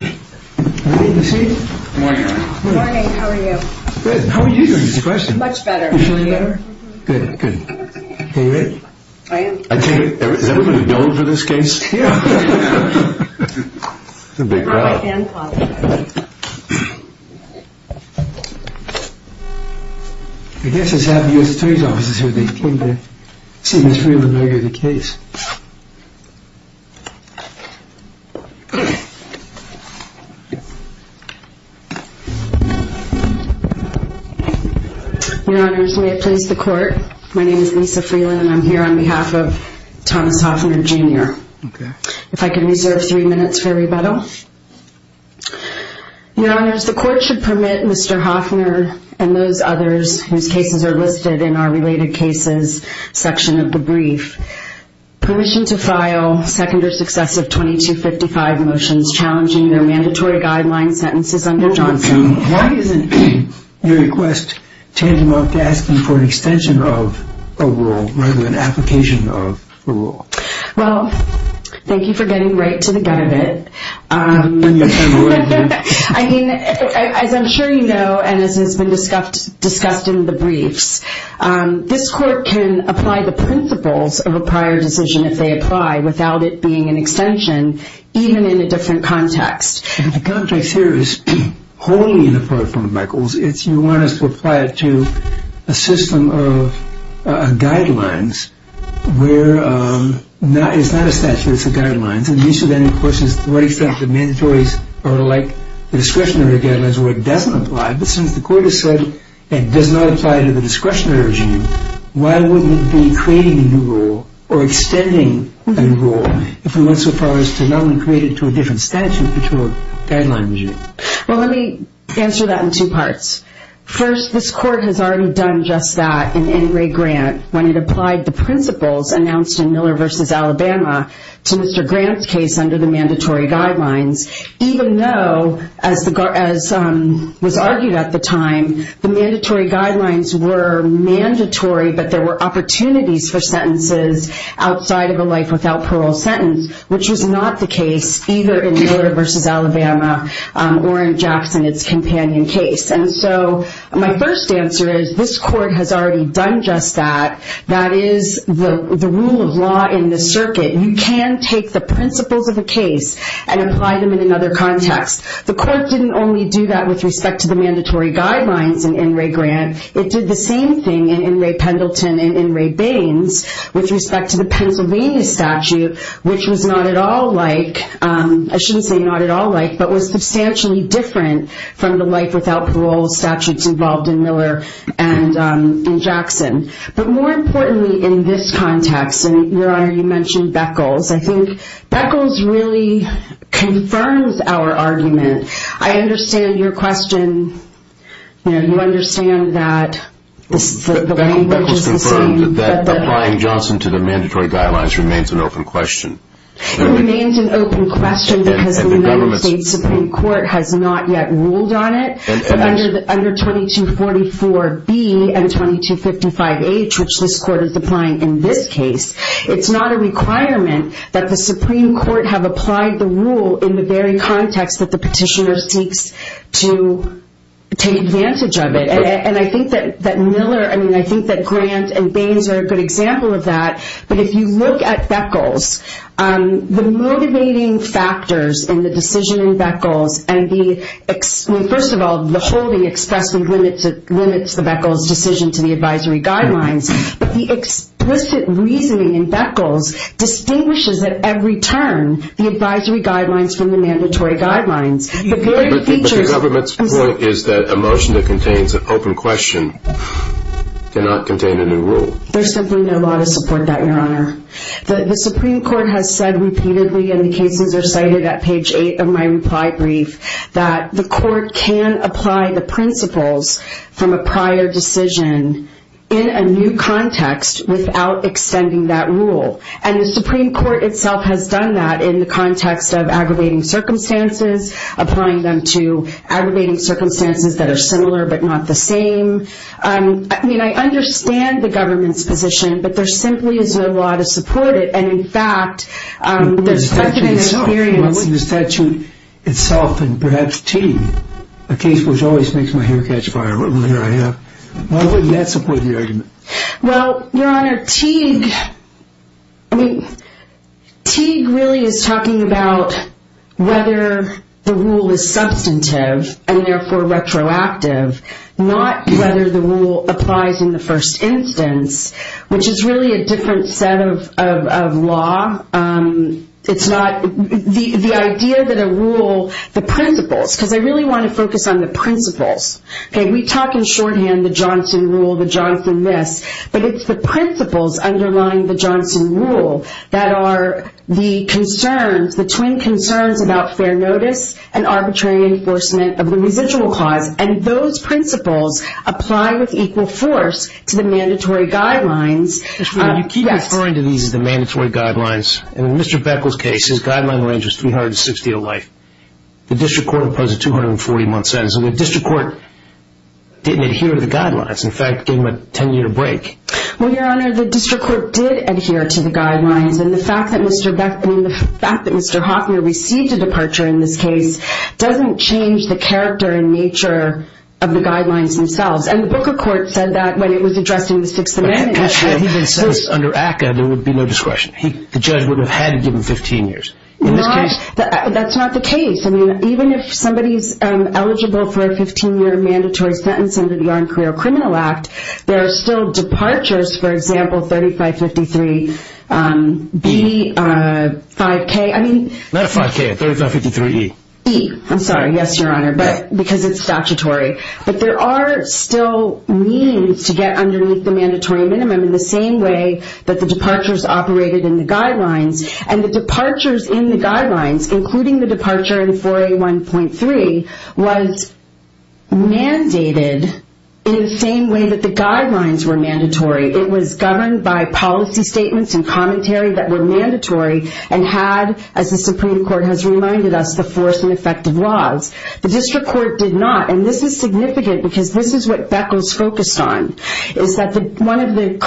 Good morning. How are you? Good. How are you doing? Much better. You feeling better? Good. Good. Are you ready? I am. Is everyone a donor for this case? Yeah. It's a big crowd. I guess it's happy U.S. Attorney's Office is here. They came to see Ms. Friedlander again. Your Honors, may it please the Court, my name is Lisa Friedlander and I am here on behalf of Thomas Hoffner Jr. If I could reserve three minutes for rebuttal. Your Honors, the Court should permit Mr. Hoffner and those others whose cases are listed in our related cases section of the brief permission to file second or successive 2255 motions challenging their mandatory guideline sentences under Johnson. Why isn't your request tantamount to asking for an extension of a rule rather than application of a rule? Well, thank you for getting right to the gut of it. I mean, as I'm sure you know, and as has been discussed in the briefs, this Court can apply the principles of a prior decision if they apply without it being an extension, even in a different context. The context here is wholly inappropriate, Your Honors, to apply it to a system of guidelines where it's not a statute, it's a guideline. And so the issue then, of course, is to what extent the mandatories are like the discretionary guidelines where it doesn't apply. But since the Court has said it does not apply to the discretionary regime, why wouldn't it be creating a new rule or extending a new rule if it went so far as to not only create it to a different statute but to a guideline regime? Well, let me answer that in two parts. First, this Court has already done just that in Ray Grant when it applied the principles announced in Miller v. Alabama to Mr. Grant's case under the mandatory guidelines, even though, as was argued at the time, the mandatory guidelines were mandatory but there were opportunities for sentences outside of a life without parole sentence, which was not the case either in Miller v. Alabama or in Jackson, its companion case. And so my first answer is this Court has already done just that. That is the rule of law in the circuit. You can take the principles of a case and apply them in another context. The Court didn't only do that with respect to the mandatory guidelines in Ray Grant. It did the same thing in Ray Pendleton and in Ray Baines with respect to the Pennsylvania statute, which was not at all like, I shouldn't say not at all like, but was substantially different from the life without parole statutes involved in Miller and in Jackson. But more importantly in this context, and Your Honor, you mentioned Beckles, I think Beckles really confirms our argument. I understand your question. You understand that the language is the same. Beckles confirmed that applying Johnson to the mandatory guidelines remains an open question. It remains an open question because the United States Supreme Court has not yet ruled on it. Under 2244B and 2255H, which this Court is applying in this case, it's not a requirement that the Supreme Court have applied the rule in the very context that the petitioner seeks to take advantage of it. And I think that Miller, I mean, I think that Grant and Baines are a good example of that. But if you look at Beckles, the motivating factors in the decision in Beckles and the first of all, the holding expressly limits the Beckles decision to the advisory guidelines. But the explicit reasoning in Beckles distinguishes at every turn the advisory guidelines from the mandatory guidelines. But the government's point is that a motion that contains an open question cannot contain a new rule. There's simply no law to support that, Your Honor. The Supreme Court has said repeatedly, and the cases are cited at page 8 of my reply brief, that the Court can apply the principles from a prior decision in a new context without extending that rule. And the Supreme Court itself has done that in the context of aggravating circumstances, applying them to aggravating circumstances that are similar but not the same. I mean, I understand the government's position, but there simply is no law to support it. And in fact, there's such an experience. Why wouldn't the statute itself and perhaps Teague, a case which always makes my hair catch fire, here I am, why wouldn't that support the argument? Well, Your Honor, Teague, I mean, Teague really is talking about whether the rule is substantive and therefore retroactive, not whether the rule applies in the first instance, which is really a different set of law. It's not the idea that a rule, the principles, because I really want to focus on the principles. Okay, we talk in shorthand, the Johnson rule, the Johnson this, but it's the principles underlying the Johnson rule that are the concerns, the twin concerns about fair notice and arbitrary enforcement of the residual clause. And those principles apply with equal force to the mandatory guidelines. You keep referring to these as the mandatory guidelines. In Mr. Beckel's case, his guideline range was 360 a life. The district court imposed a 240-month sentence. And the district court didn't adhere to the guidelines. In fact, it gave him a 10-year break. Well, Your Honor, the district court did adhere to the guidelines. And the fact that Mr. Hoffman received a departure in this case doesn't change the character and nature of the guidelines themselves. And the Booker Court said that when it was addressing the Sixth Amendment. Under ACCA, there would be no discretion. The judge would have had to give him 15 years in this case. That's not the case. I mean, even if somebody's eligible for a 15-year mandatory sentence under the Armed There are still departures, for example, 3553B, 5K. Not 5K, 3553E. E, I'm sorry. Yes, Your Honor, because it's statutory. But there are still means to get underneath the mandatory minimum in the same way that the departures operated in the guidelines. And the departures in the guidelines, including the departure in 4A1.3, was mandated in the same way that the guidelines were mandatory. It was governed by policy statements and commentary that were mandatory and had, as the Supreme Court has reminded us, the force and effect of laws. The district court did not. And this is significant because this is what Beckles focused on, is that one of the is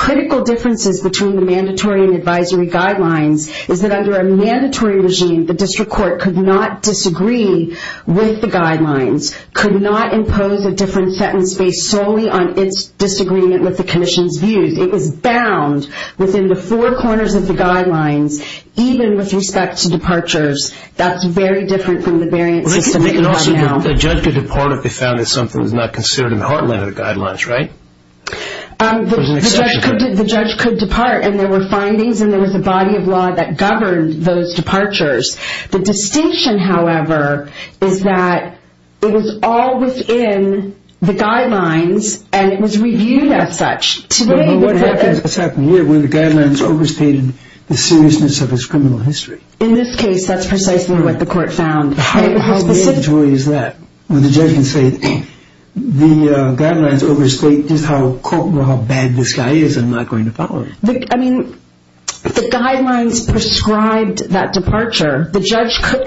that under a mandatory regime, the district court could not disagree with the guidelines, could not impose a different sentence based solely on its disagreement with the commission's views. It was bound within the four corners of the guidelines, even with respect to departures. That's very different from the variant system that we have now. Listen, the judge could depart if they found that something was not considered in the heartland of the guidelines, right? There's an exception to that. The judge could depart. And there were findings and there was a body of law that governed those departures. The distinction, however, is that it was all within the guidelines and it was reviewed as such. But what's happened here, where the guidelines overstated the seriousness of its criminal history? In this case, that's precisely what the court found. How bad a joy is that when the judge can say the guidelines overstate just how bad this guy is and not going to follow him? I mean, the guidelines prescribed that departure.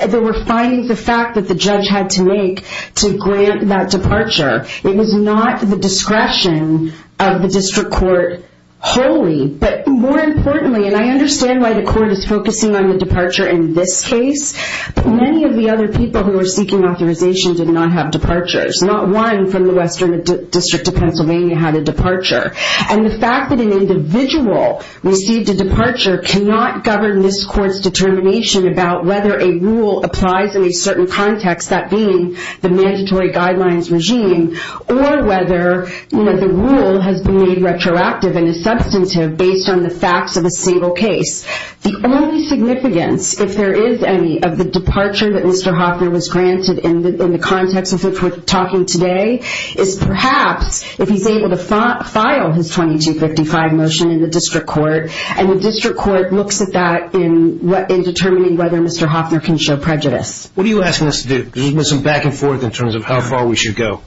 There were findings of fact that the judge had to make to grant that departure. It was not the discretion of the district court wholly. But more importantly, and I understand why the court is focusing on the departure in this case, but many of the other people who were seeking authorization did not have departures. Not one from the Western District of Pennsylvania had a departure. And the fact that an individual received a departure cannot govern this court's determination about whether a rule applies in a certain context, that being the mandatory guidelines regime, or whether the rule has been made retroactive and is substantive based on the facts of a single case. The only significance, if there is any, of the departure that Mr. Hoffner was talking today is perhaps if he's able to file his 2255 motion in the district court and the district court looks at that in determining whether Mr. Hoffner can show prejudice. What are you asking us to do? There's been some back and forth in terms of how far we should go.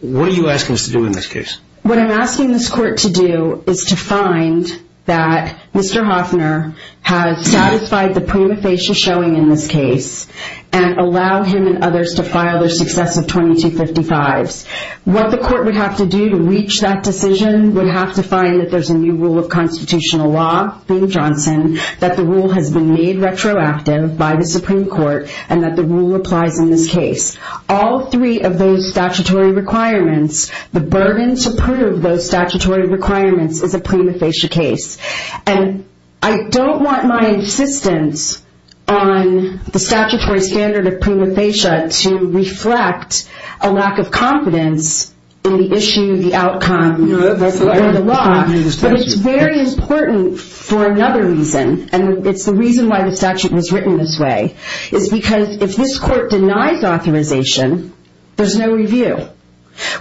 What are you asking us to do in this case? What I'm asking this court to do is to find that Mr. Hoffner has satisfied the prima facie showing in this case and allow him and others to file their successive 2255s. What the court would have to do to reach that decision would have to find that there's a new rule of constitutional law, Bing Johnson, that the rule has been made retroactive by the Supreme Court and that the rule applies in this case. All three of those statutory requirements, the burden to prove those statutory requirements is a prima facie case. And I don't want my insistence on the statutory standard of prima facie to reflect a lack of confidence in the issue, the outcome, or the law. But it's very important for another reason, and it's the reason why the statute was written this way, is because if this court denies authorization, there's no review.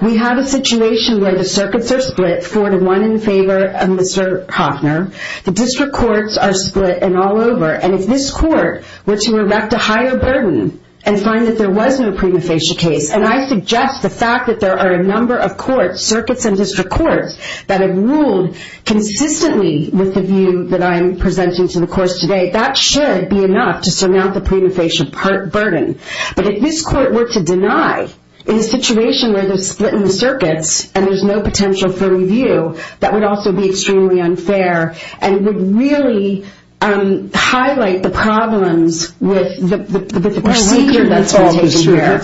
We have a situation where the circuits are split, four to one in favor of Mr. Hoffner. The district courts are split and all over. And if this court were to erect a higher burden and find that there was no prima facie case, and I suggest the fact that there are a number of courts, circuits and district courts, that have ruled consistently with the view that I'm presenting to the courts today, that should be enough to surmount the prima facie burden. But if this court were to deny in a situation where they're split in the circuits and there's no potential for review, that would also be extremely unfair, and would really highlight the problems with the procedure that's been taken care of.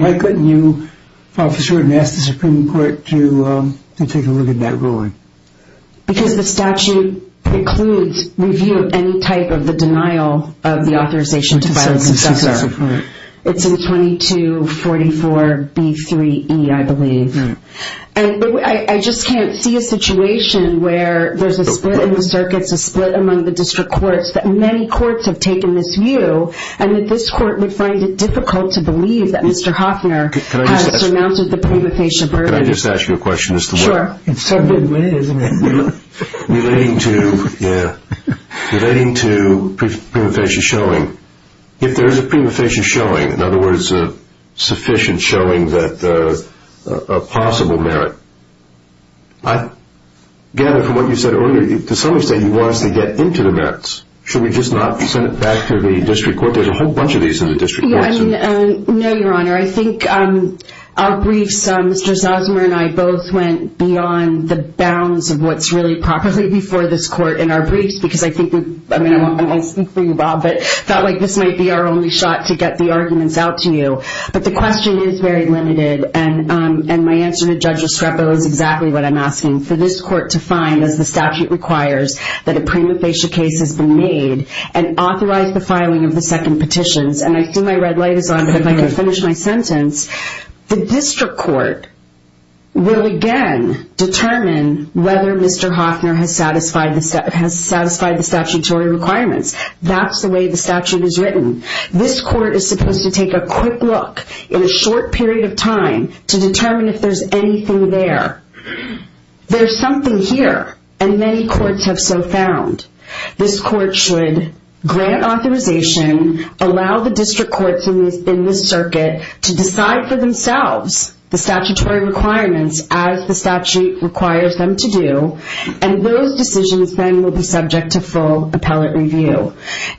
Why couldn't you file for cert and ask the Supreme Court to take a look at that ruling? Because the statute precludes review of any type of the denial of the authorization to file a successor. It's in 2244B3E, I believe. I just can't see a situation where there's a split in the circuits, a split among the district courts, that many courts have taken this view, and that this court would find it difficult to believe that Mr. Hoffner has surmounted the prima facie burden. Can I just ask you a question? Sure. In some good way, isn't it? Relating to prima facie showing, if there's a prima facie showing, in other words, there's a possibility of a possible merit. I gather from what you said earlier, to some extent you want us to get into the merits. Should we just not send it back to the district court? There's a whole bunch of these in the district courts. No, Your Honor. I think our briefs, Mr. Zosmer and I both went beyond the bounds of what's really properly before this court in our briefs, because I think we, I mean, I won't speak for you, Bob, but I felt like this might be our only shot to get the arguments out to you. But the question is very limited, and my answer to Judge Estrepo is exactly what I'm asking. For this court to find, as the statute requires, that a prima facie case has been made and authorize the filing of the second petitions, and I see my red light is on, but if I could finish my sentence, the district court will again determine whether Mr. Hoffner has satisfied the statutory requirements. That's the way the statute is written. This court is supposed to take a quick look in a short period of time to determine if there's anything there. There's something here, and many courts have so found. This court should grant authorization, allow the district courts in this circuit to decide for themselves the statutory requirements as the statute requires them to do, and those decisions then will be subject to full appellate review.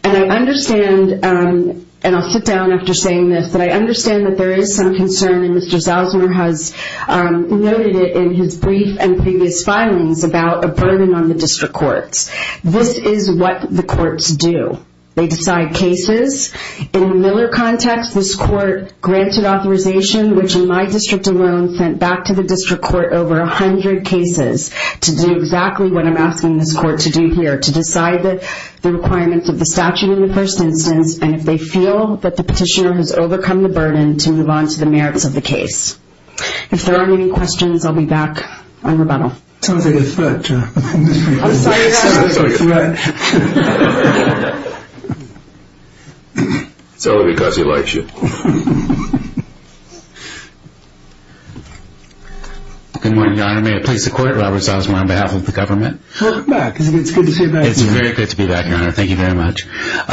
And I understand, and I'll sit down after saying this, but I understand that there is some concern, and Mr. Salzner has noted it in his brief and previous filings about a burden on the district courts. This is what the courts do. They decide cases. In the Miller context, this court granted authorization, which in my district alone sent back to the district court over 100 cases to do exactly what I'm They decide cases. They decide the merits of the statute in the first instance, and if they feel that the petitioner has overcome the burden, to move on to the merits of the case. If there are any questions, I'll be back on rebuttal. I'm sorry to threaten. It's only because he likes you. Good morning, Your Honor. May it please the court, Robert Salzner on behalf of the government. Welcome back. It's good to see you back. It's very good to be back, Your Honor. Thank you very much. Your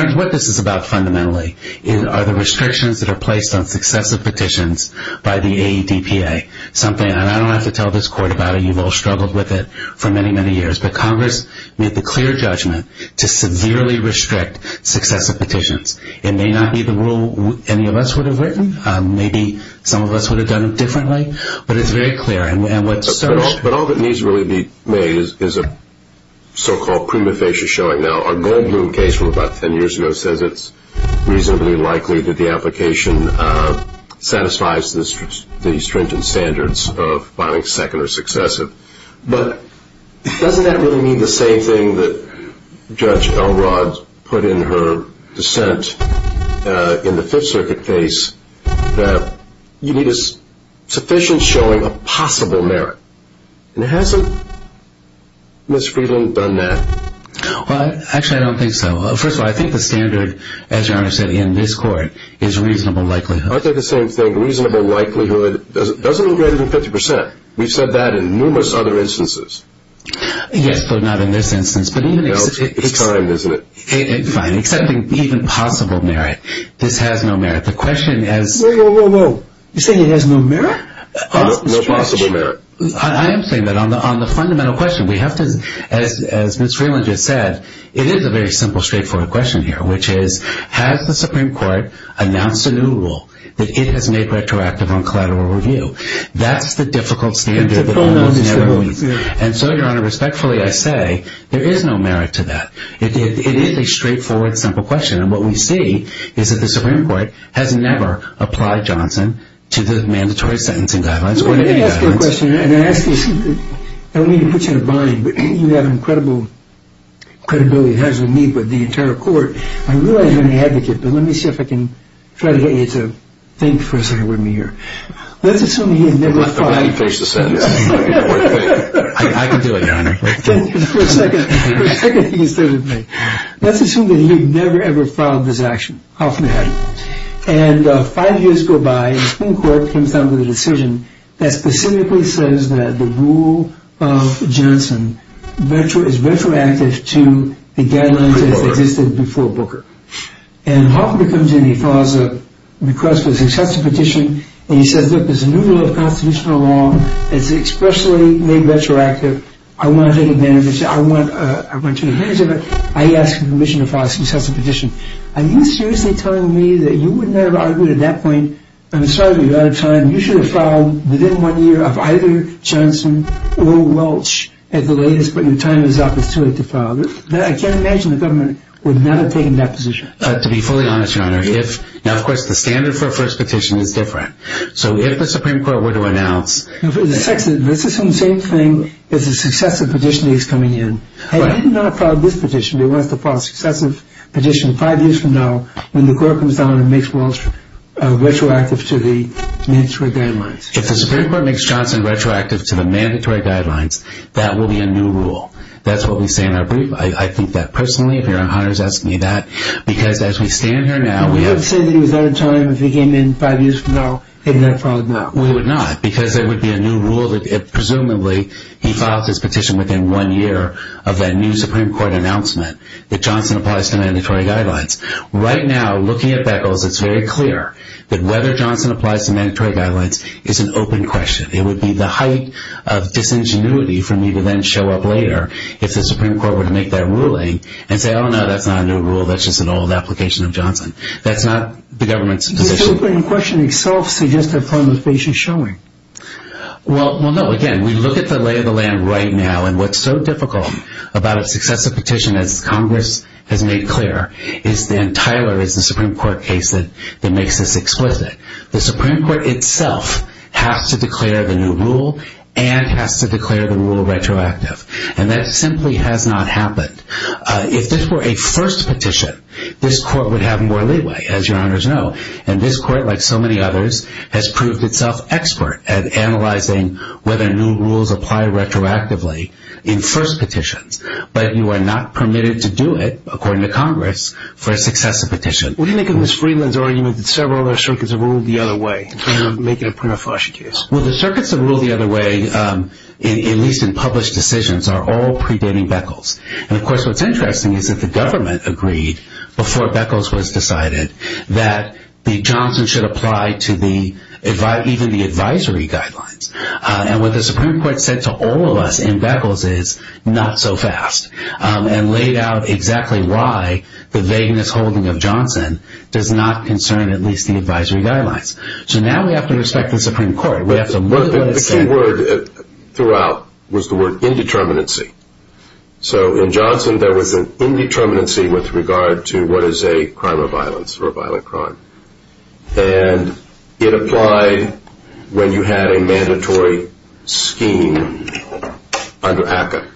Honor, what this is about fundamentally are the restrictions that are placed on successive petitions by the AEDPA. I don't have to tell this court about it. You've all struggled with it for many, many years, but Congress made the clear judgment to severely restrict successive petitions. It may not be the rule any of us would have written. Maybe some of us would have done it differently, but it's very clear. But all that needs to really be made is a so-called prima facie showing. Now, our Goldbloom case from about ten years ago says it's reasonably likely that the application satisfies the stringent standards of filing second or successive. But doesn't that really mean the same thing that Judge Elrod put in her dissent in the Fifth Circuit case, that you need a sufficient showing of possible merit? And hasn't Ms. Friedland done that? Well, actually, I don't think so. First of all, I think the standard, as Your Honor said, in this court is reasonable likelihood. I think the same thing. Reasonable likelihood doesn't look greater than 50 percent. We've said that in numerous other instances. Yes, but not in this instance. No, it's timed, isn't it? Fine. Accepting even possible merit. This has no merit. The question is... Whoa, whoa, whoa, whoa. You're saying it has no merit? No possible merit. I am saying that on the fundamental question, we have to, as Ms. Friedland just said, it is a very simple, straightforward question here, which is, has the Supreme Court announced a new rule that it has made retroactive on collateral review? That's the difficult standard that almost never meets. And so, Your Honor, respectfully, I say there is no merit to that. It is a straightforward, simple question. And what we see is that the Supreme Court has never applied Johnson to the mandatory sentencing guidelines or any guidelines. Let me ask you a question, and I don't mean to put you in a bind, but you have an incredible credibility. It has with me, with the entire court. I realize you're an advocate, but let me see if I can try to get you to think for a second with me here. Let's assume that he had never filed... I'm glad you finished the sentence. I can do it, Your Honor. For a second, you can start with me. Let's assume that he had never, ever filed this action. How often had he? And five years go by, and the Supreme Court comes down with a decision that specifically says that the rule of Johnson is retroactive to the guidelines that existed before Booker. And Hoffman comes in, he files a request for a successive petition, and he says, look, there's a new rule of constitutional law. It's expressly made retroactive. I want to take advantage of it. I want to take advantage of it. I ask for permission to file a successive petition. Are you seriously telling me that you wouldn't have argued at that point, I'm sorry, but you're out of time, you should have filed within one year of either Johnson or Walsh at the latest, but your time is up. It's too late to file. I can't imagine the government would not have taken that position. To be fully honest, Your Honor, if... Now, of course, the standard for a first petition is different. So if the Supreme Court were to announce... Let's assume the same thing as a successive petition he's coming in. He did not file this petition. He wants to file a successive petition five years from now when the court comes down and makes Walsh retroactive to the mandatory guidelines. If the Supreme Court makes Johnson retroactive to the mandatory guidelines, that will be a new rule. That's what we say in our brief. I think that personally, if Your Honor is asking me that, because as we stand here now... You would say that he was out of time if he came in five years from now, he would not have filed it now. He would not, because there would be a new rule that, presumably, he filed his petition within one year of that new Supreme Court announcement that Johnson applies to mandatory guidelines. Right now, looking at Beckles, it's very clear that whether Johnson applies to mandatory guidelines is an open question. It would be the height of disingenuity for me to then show up later if the Supreme Court were to make that ruling and say, oh, no, that's not a new rule. That's just an old application of Johnson. That's not the government's position. The open question itself suggests a form of patient showing. Well, no. Again, we look at the lay of the land right now, and what's so difficult about a successive petition, as Congress has made clear, is the entire Supreme Court case that makes this explicit. The Supreme Court itself has to declare the new rule and has to declare the rule retroactive. And that simply has not happened. If this were a first petition, this court would have more leeway, as Your Honors know. And this court, like so many others, has proved itself expert at analyzing whether new rules apply retroactively in first petitions. But you are not permitted to do it, according to Congress, for a successive petition. What do you make of Ms. Friedland's argument that several other circuits have ruled the other way in terms of making a Pernafosshi case? Well, the circuits that rule the other way, at least in published decisions, are all predating Beckles. And, of course, what's interesting is that the government agreed, before Beckles was decided, that Johnson should apply to even the advisory guidelines. And what the Supreme Court said to all of us in Beckles is, not so fast. And laid out exactly why the vagueness holding of Johnson does not concern at least the advisory guidelines. So now we have to respect the Supreme Court. The key word throughout was the word indeterminacy. So in Johnson, there was an indeterminacy with regard to what is a crime of violence or a violent crime. And it applied when you had a mandatory scheme under ACCA.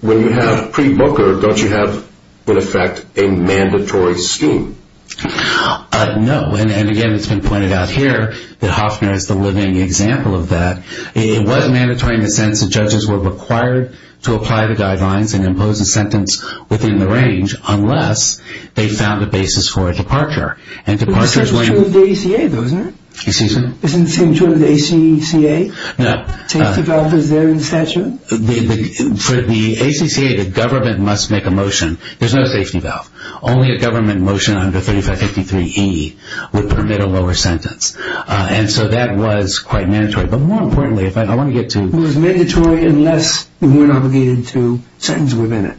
When you have pre-Booker, don't you have, in effect, a mandatory scheme? No. And, again, it's been pointed out here that Hofner is the living example of that. It was mandatory in the sense that judges were required to apply the guidelines and impose a sentence within the range unless they found a basis for a departure. But the same is true of the ACA, though, isn't it? Excuse me? Isn't the same true of the ACCA? No. Safety valve is there in statute? For the ACCA, the government must make a motion. There's no safety valve. Only a government motion under 3553E would permit a lower sentence. And so that was quite mandatory. But, more importantly, if I want to get to... It was mandatory unless we weren't obligated to sentence within it.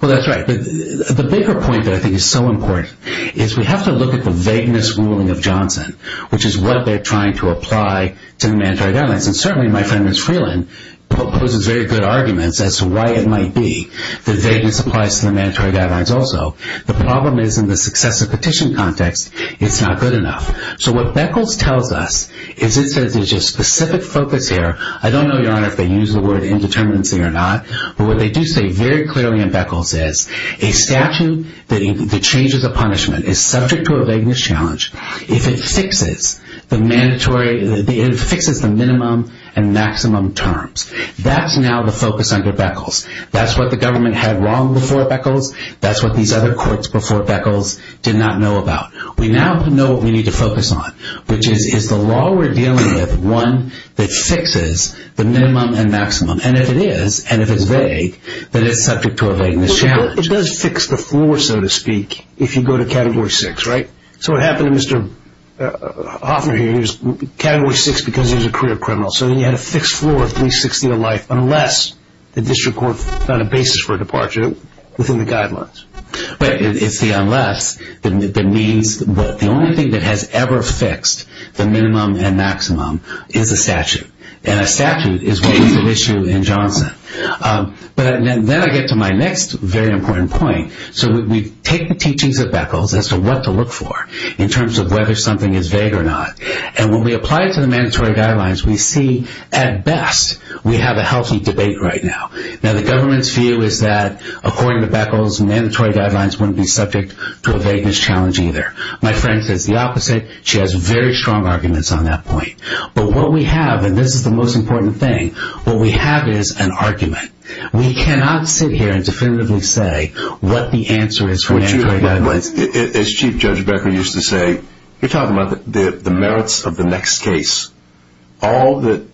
Well, that's right. But the bigger point that I think is so important is we have to look at the vagueness ruling of Johnson, which is what they're trying to apply to the mandatory guidelines. And, certainly, my friend, Ms. Freeland, poses very good arguments as to why it might be that vagueness applies to the mandatory guidelines also. The problem is, in the successive petition context, it's not good enough. So what Beckles tells us is it says there's a specific focus here. I don't know, Your Honor, if they use the word indeterminacy or not, but what they do say very clearly in Beckles is a statute that changes a punishment is subject to a vagueness challenge if it fixes the minimum and maximum terms. That's now the focus under Beckles. That's what the government had wrong before Beckles. That's what these other courts before Beckles did not know about. We now know what we need to focus on, which is, is the law we're dealing with one that fixes the minimum and maximum? And if it is, and if it's vague, then it's subject to a vagueness challenge. It does fix the floor, so to speak, if you go to Category 6, right? So what happened to Mr. Hoffner here, he was in Category 6 because he was a career criminal, so he had a fixed floor of at least 60 a life unless the district court found a basis for a departure within the guidelines. But it's the unless, the means, the only thing that has ever fixed the minimum and maximum is a statute, and a statute is what was at issue in Johnson. But then I get to my next very important point. So we take the teachings of Beckles as to what to look for in terms of whether something is vague or not, and when we apply it to the mandatory guidelines, we see at best we have a healthy debate right now. Now the government's view is that, according to Beckles, mandatory guidelines wouldn't be subject to a vagueness challenge either. My friend says the opposite. She has very strong arguments on that point. But what we have, and this is the most important thing, what we have is an argument. We cannot sit here and definitively say what the answer is for mandatory guidelines. As Chief Judge Becker used to say, you're talking about the merits of the next case. All that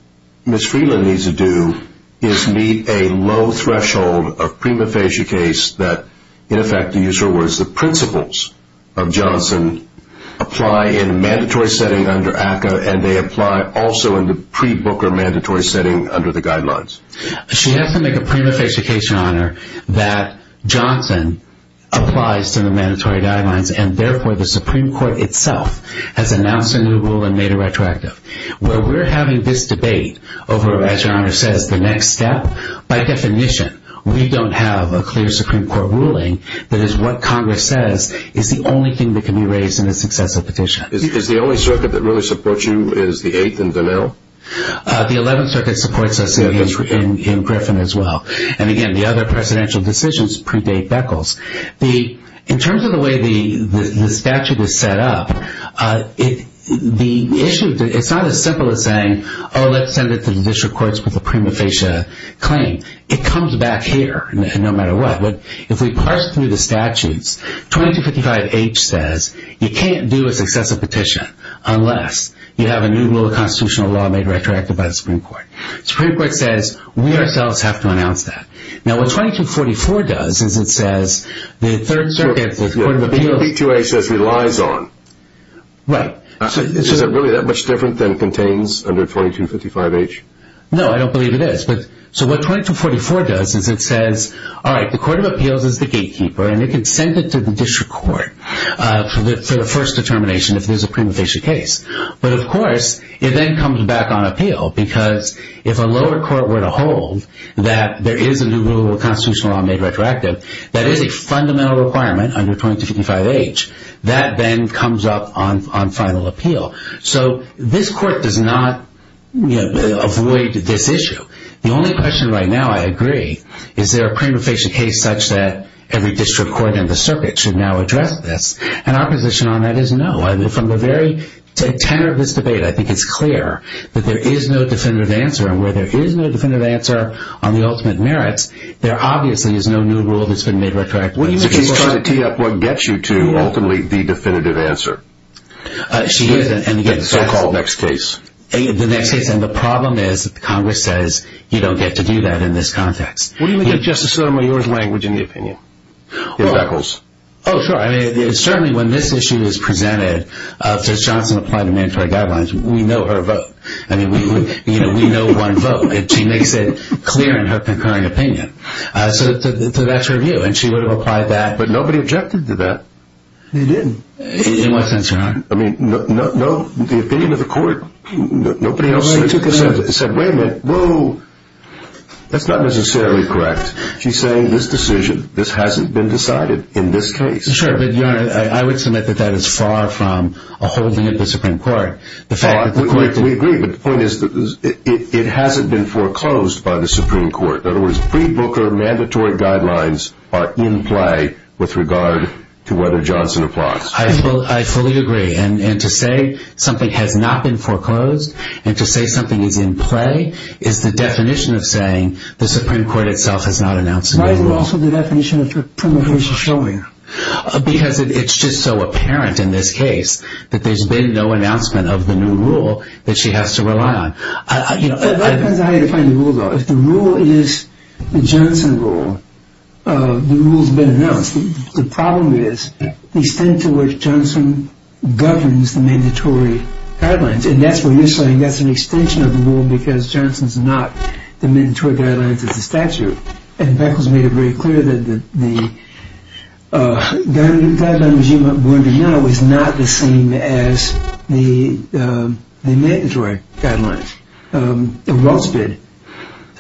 Ms. Friedland needs to do is meet a low threshold of prima facie case that, in effect, to use her words, the principles of Johnson apply in a mandatory setting under ACCA and they apply also in the pre-Booker mandatory setting under the guidelines. She has to make a prima facie case, Your Honor, that Johnson applies to the mandatory guidelines and, therefore, the Supreme Court itself has announced a new rule and made a retroactive. Where we're having this debate over, as Your Honor says, the next step, by definition we don't have a clear Supreme Court ruling that is what Congress says is the only thing that can be raised in a successive petition. Is the only circuit that really supports you is the 8th and Donnell? The 11th Circuit supports us in Griffin as well. And, again, the other presidential decisions predate Beckles. In terms of the way the statute is set up, it's not as simple as saying, oh, let's send it to the district courts with a prima facie claim. It comes back here no matter what. If we parse through the statutes, 2255H says you can't do a successive petition unless you have a new rule of constitutional law made retroactive by the Supreme Court. The Supreme Court says we ourselves have to announce that. Now, what 2244 does is it says the 3rd Circuit, the Court of Appeals... The B2A says it relies on. Right. Is it really that much different than it contains under 2255H? No, I don't believe it is. So what 2244 does is it says, all right, the Court of Appeals is the gatekeeper and it can send it to the district court for the first determination if there's a prima facie case. But, of course, it then comes back on appeal because if a lower court were to hold that there is a new rule of constitutional law made retroactive that is a fundamental requirement under 2255H, that then comes up on final appeal. So this court does not avoid this issue. The only question right now, I agree, is there a prima facie case such that every district court in the circuit should now address this? And our position on that is no. From the very tenor of this debate, I think it's clear that there is no definitive answer. And where there is no definitive answer on the ultimate merits, there obviously is no new rule that's been made retroactive. So she's trying to tee up what gets you to ultimately the definitive answer. She is. The so-called next case. The next case. And the problem is Congress says you don't get to do that in this context. What do you make of Justice Sotomayor's language in the opinion? In Beckles. Oh, sure. I mean, certainly when this issue is presented, since Johnson applied the mandatory guidelines, we know her vote. I mean, we know one vote. She makes it clear in her concurring opinion. So that's her view. And she would have applied that. But nobody objected to that. They didn't. In what sense, Your Honor? I mean, no. The opinion of the court, nobody else said, wait a minute, whoa. That's not necessarily correct. She's saying this decision, this hasn't been decided in this case. Sure. But, Your Honor, I would submit that that is far from a holding of the Supreme Court. We agree. But the point is it hasn't been foreclosed by the Supreme Court. In other words, pre-Booker mandatory guidelines are in play with regard to whether Johnson applies. I fully agree. And to say something has not been foreclosed and to say something is in play is the definition of saying the Supreme Court itself has not announced a new rule. Why is it also the definition of prima facie showing? Because it's just so apparent in this case that there's been no announcement of the new rule that she has to rely on. That depends on how you define the rule, though. If the rule is the Johnson rule, the rule's been announced. The problem is the extent to which Johnson governs the mandatory guidelines. And that's what you're saying. That's an extension of the rule because Johnson's not the mandatory guidelines of the statute. And Beckham's made it very clear that the guideline regime we're under now is not the same as the mandatory guidelines. The rules have been.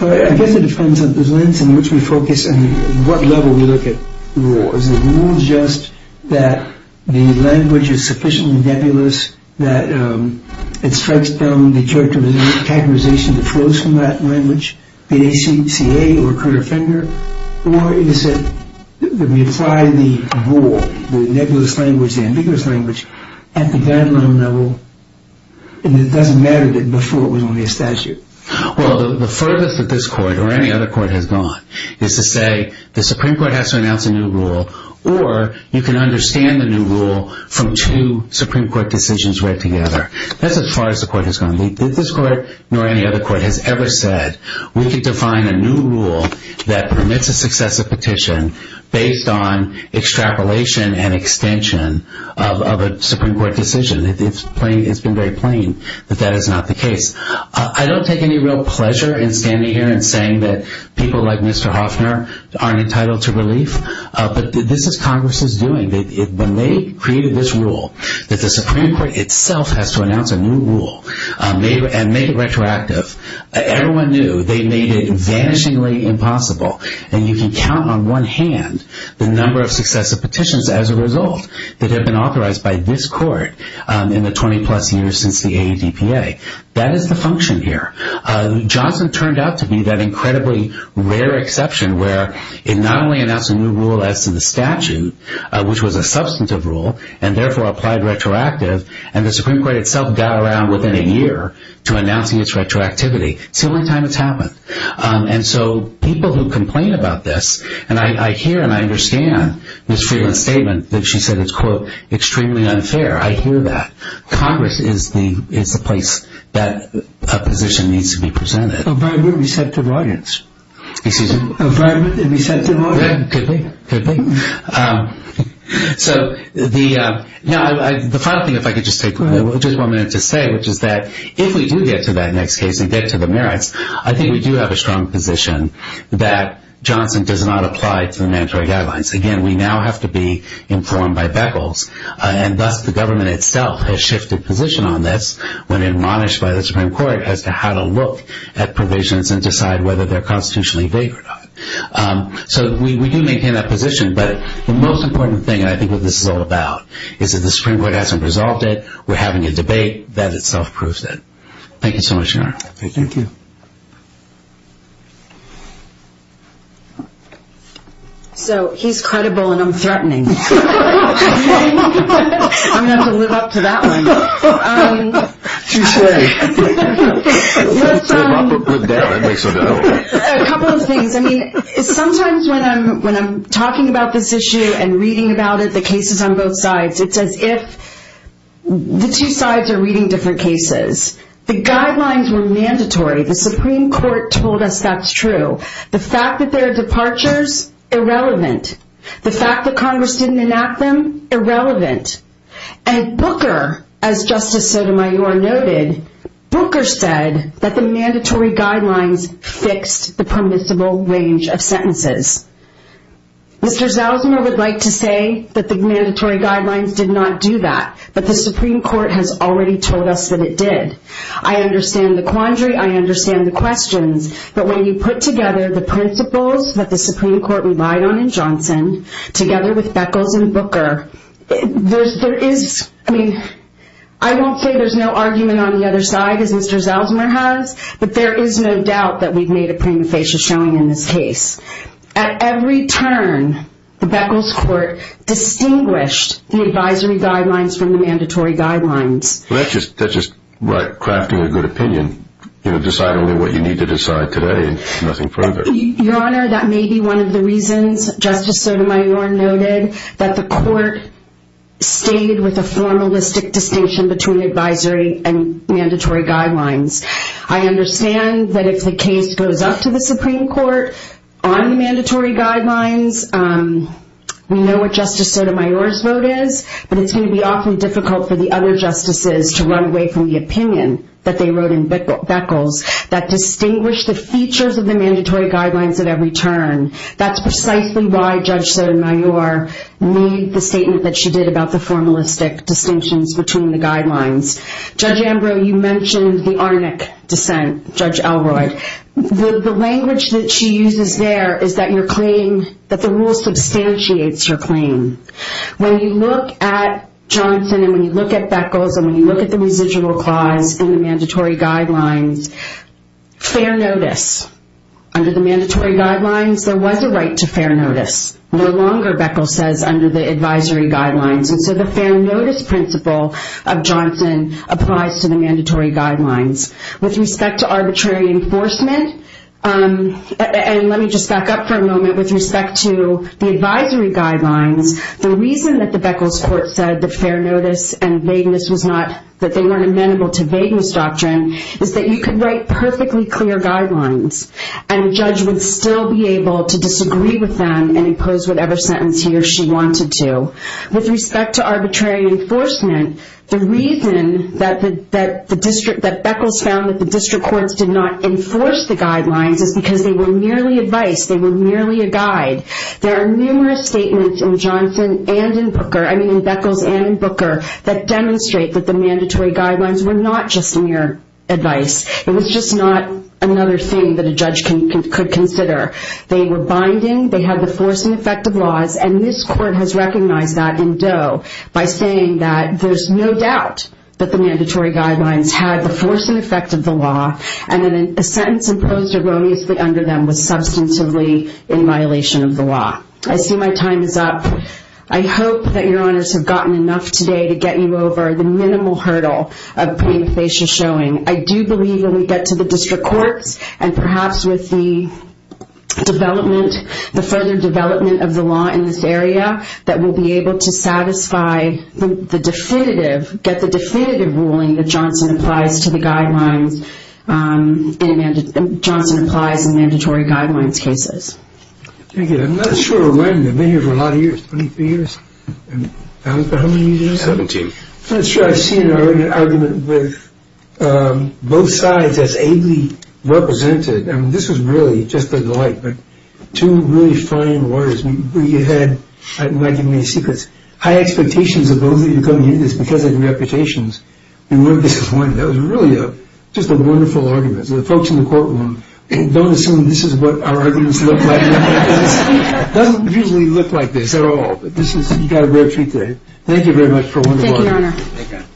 I guess it depends on the lens in which we focus and what level we look at the rule. Is the rule just that the language is sufficiently nebulous that it strikes down the characterization that flows from that language, the ACCA or Curt Offender? Or is it that we apply the rule, the nebulous language, the ambiguous language, at the guideline level and it doesn't matter that before it was only a statute? Well, the furthest that this court or any other court has gone is to say the Supreme Court has to announce a new rule or you can understand the new rule from two Supreme Court decisions read together. That's as far as the court has gone. This court nor any other court has ever said we can define a new rule that permits a successive petition based on extrapolation and extension of a Supreme Court decision. It's been very plain that that is not the case. I don't take any real pleasure in standing here and saying that people like Mr. Hoffner aren't entitled to relief, but this is Congress's doing. When they created this rule that the Supreme Court itself has to announce a new rule and make it retroactive, everyone knew they made it vanishingly impossible. And you can count on one hand the number of successive petitions as a result that have been authorized by this court in the 20-plus years since the ADPA. That is the function here. Johnson turned out to be that incredibly rare exception where it not only announced a new rule as to the statute, which was a substantive rule and therefore applied retroactive, and the Supreme Court itself got around within a year to announcing its retroactivity. It's the only time it's happened. And so people who complain about this, and I hear and I understand Ms. Freeland's statement that she said it's quote that a position needs to be presented. Environment and receptive audience. Excuse me? Environment and receptive audience. Could be, could be. So the final thing, if I could just take just one minute to say, which is that if we do get to that next case and get to the merits, I think we do have a strong position that Johnson does not apply to the mandatory guidelines. Again, we now have to be informed by Beckles, and thus the government itself has shifted position on this when admonished by the Supreme Court as to how to look at provisions and decide whether they're constitutionally vague or not. So we do maintain that position, but the most important thing, and I think what this is all about, is that the Supreme Court hasn't resolved it. We're having a debate that itself proves that. Thank you so much, Your Honor. Thank you. So he's credible and I'm threatening. I'm going to have to live up to that one. Touché. Live up or live down, that makes no difference. A couple of things. I mean, sometimes when I'm talking about this issue and reading about it, the cases on both sides, it's as if the two sides are reading different cases. The guidelines were mandatory. The Supreme Court told us that's true. The fact that there are departures, irrelevant. The fact that Congress didn't enact them, irrelevant. And Booker, as Justice Sotomayor noted, Booker said that the mandatory guidelines fixed the permissible range of sentences. Mr. Zeldzner would like to say that the mandatory guidelines did not do that, but the Supreme Court has already told us that it did. I understand the quandary. I understand the questions. But when you put together the principles that the Supreme Court relied on in Johnson, together with Beckles and Booker, there is, I mean, I won't say there's no argument on the other side, as Mr. Zeldzner has, but there is no doubt that we've made a prima facie showing in this case. At every turn, the Beckles court distinguished the advisory guidelines from the mandatory guidelines. That's just right, crafting a good opinion. Decide only what you need to decide today, nothing further. Your Honor, that may be one of the reasons Justice Sotomayor noted that the court stayed with a formalistic distinction between advisory and mandatory guidelines. I understand that if the case goes up to the Supreme Court on mandatory guidelines, we know what Justice Sotomayor's vote is, but it's going to be awfully difficult for the other justices to run away from the opinion that they wrote in Beckles that distinguished the features of the mandatory guidelines at every turn. That's precisely why Judge Sotomayor made the statement that she did about the formalistic distinctions between the guidelines. Judge Ambrose, you mentioned the Arnick dissent, Judge Elroy. The language that she uses there is that the rule substantiates her claim. When you look at Johnson, and when you look at Beckles, and when you look at the residual clause in the mandatory guidelines, fair notice. Under the mandatory guidelines, there was a right to fair notice. No longer, Beckles says, under the advisory guidelines. So the fair notice principle of Johnson applies to the mandatory guidelines. With respect to arbitrary enforcement, and let me just back up for a moment. With respect to the advisory guidelines, the reason that the Beckles court said that fair notice and vagueness was not, that they weren't amenable to vagueness doctrine, is that you could write perfectly clear guidelines, and a judge would still be able to disagree with them and impose whatever sentence he or she wanted to. With respect to arbitrary enforcement, the reason that Beckles found that the district courts did not enforce the guidelines is because they were merely advice, they were merely a guide. There are numerous statements in Beckles and in Booker that demonstrate that the mandatory guidelines were not just mere advice. It was just not another thing that a judge could consider. They were binding, they had the force and effect of laws, and this court has recognized that in Doe, by saying that there's no doubt that the mandatory guidelines had the force and effect of the law, and that a sentence imposed erroneously under them was substantively in violation of the law. I see my time is up. I hope that your honors have gotten enough today to get you over the minimal hurdle of pain facial showing. I do believe when we get to the district courts, and perhaps with the development, the further development of the law in this area, that we'll be able to satisfy the definitive, get the definitive ruling that Johnson applies to the guidelines. Johnson applies the mandatory guidelines cases. Thank you. I'm not sure when. I've been here for a lot of years. Twenty-three years? How many years? Seventeen. I'm not sure I've seen an argument with both sides as ably represented. This was really just a delight, but two really fine lawyers. We had, you might give me a secret, high expectations of those of you coming in We weren't disappointed. It was really just a wonderful argument. The folks in the courtroom, don't assume this is what our arguments look like. It doesn't usually look like this at all. You got a rare treat today. Thank you very much for a wonderful argument. Thank you, your honor.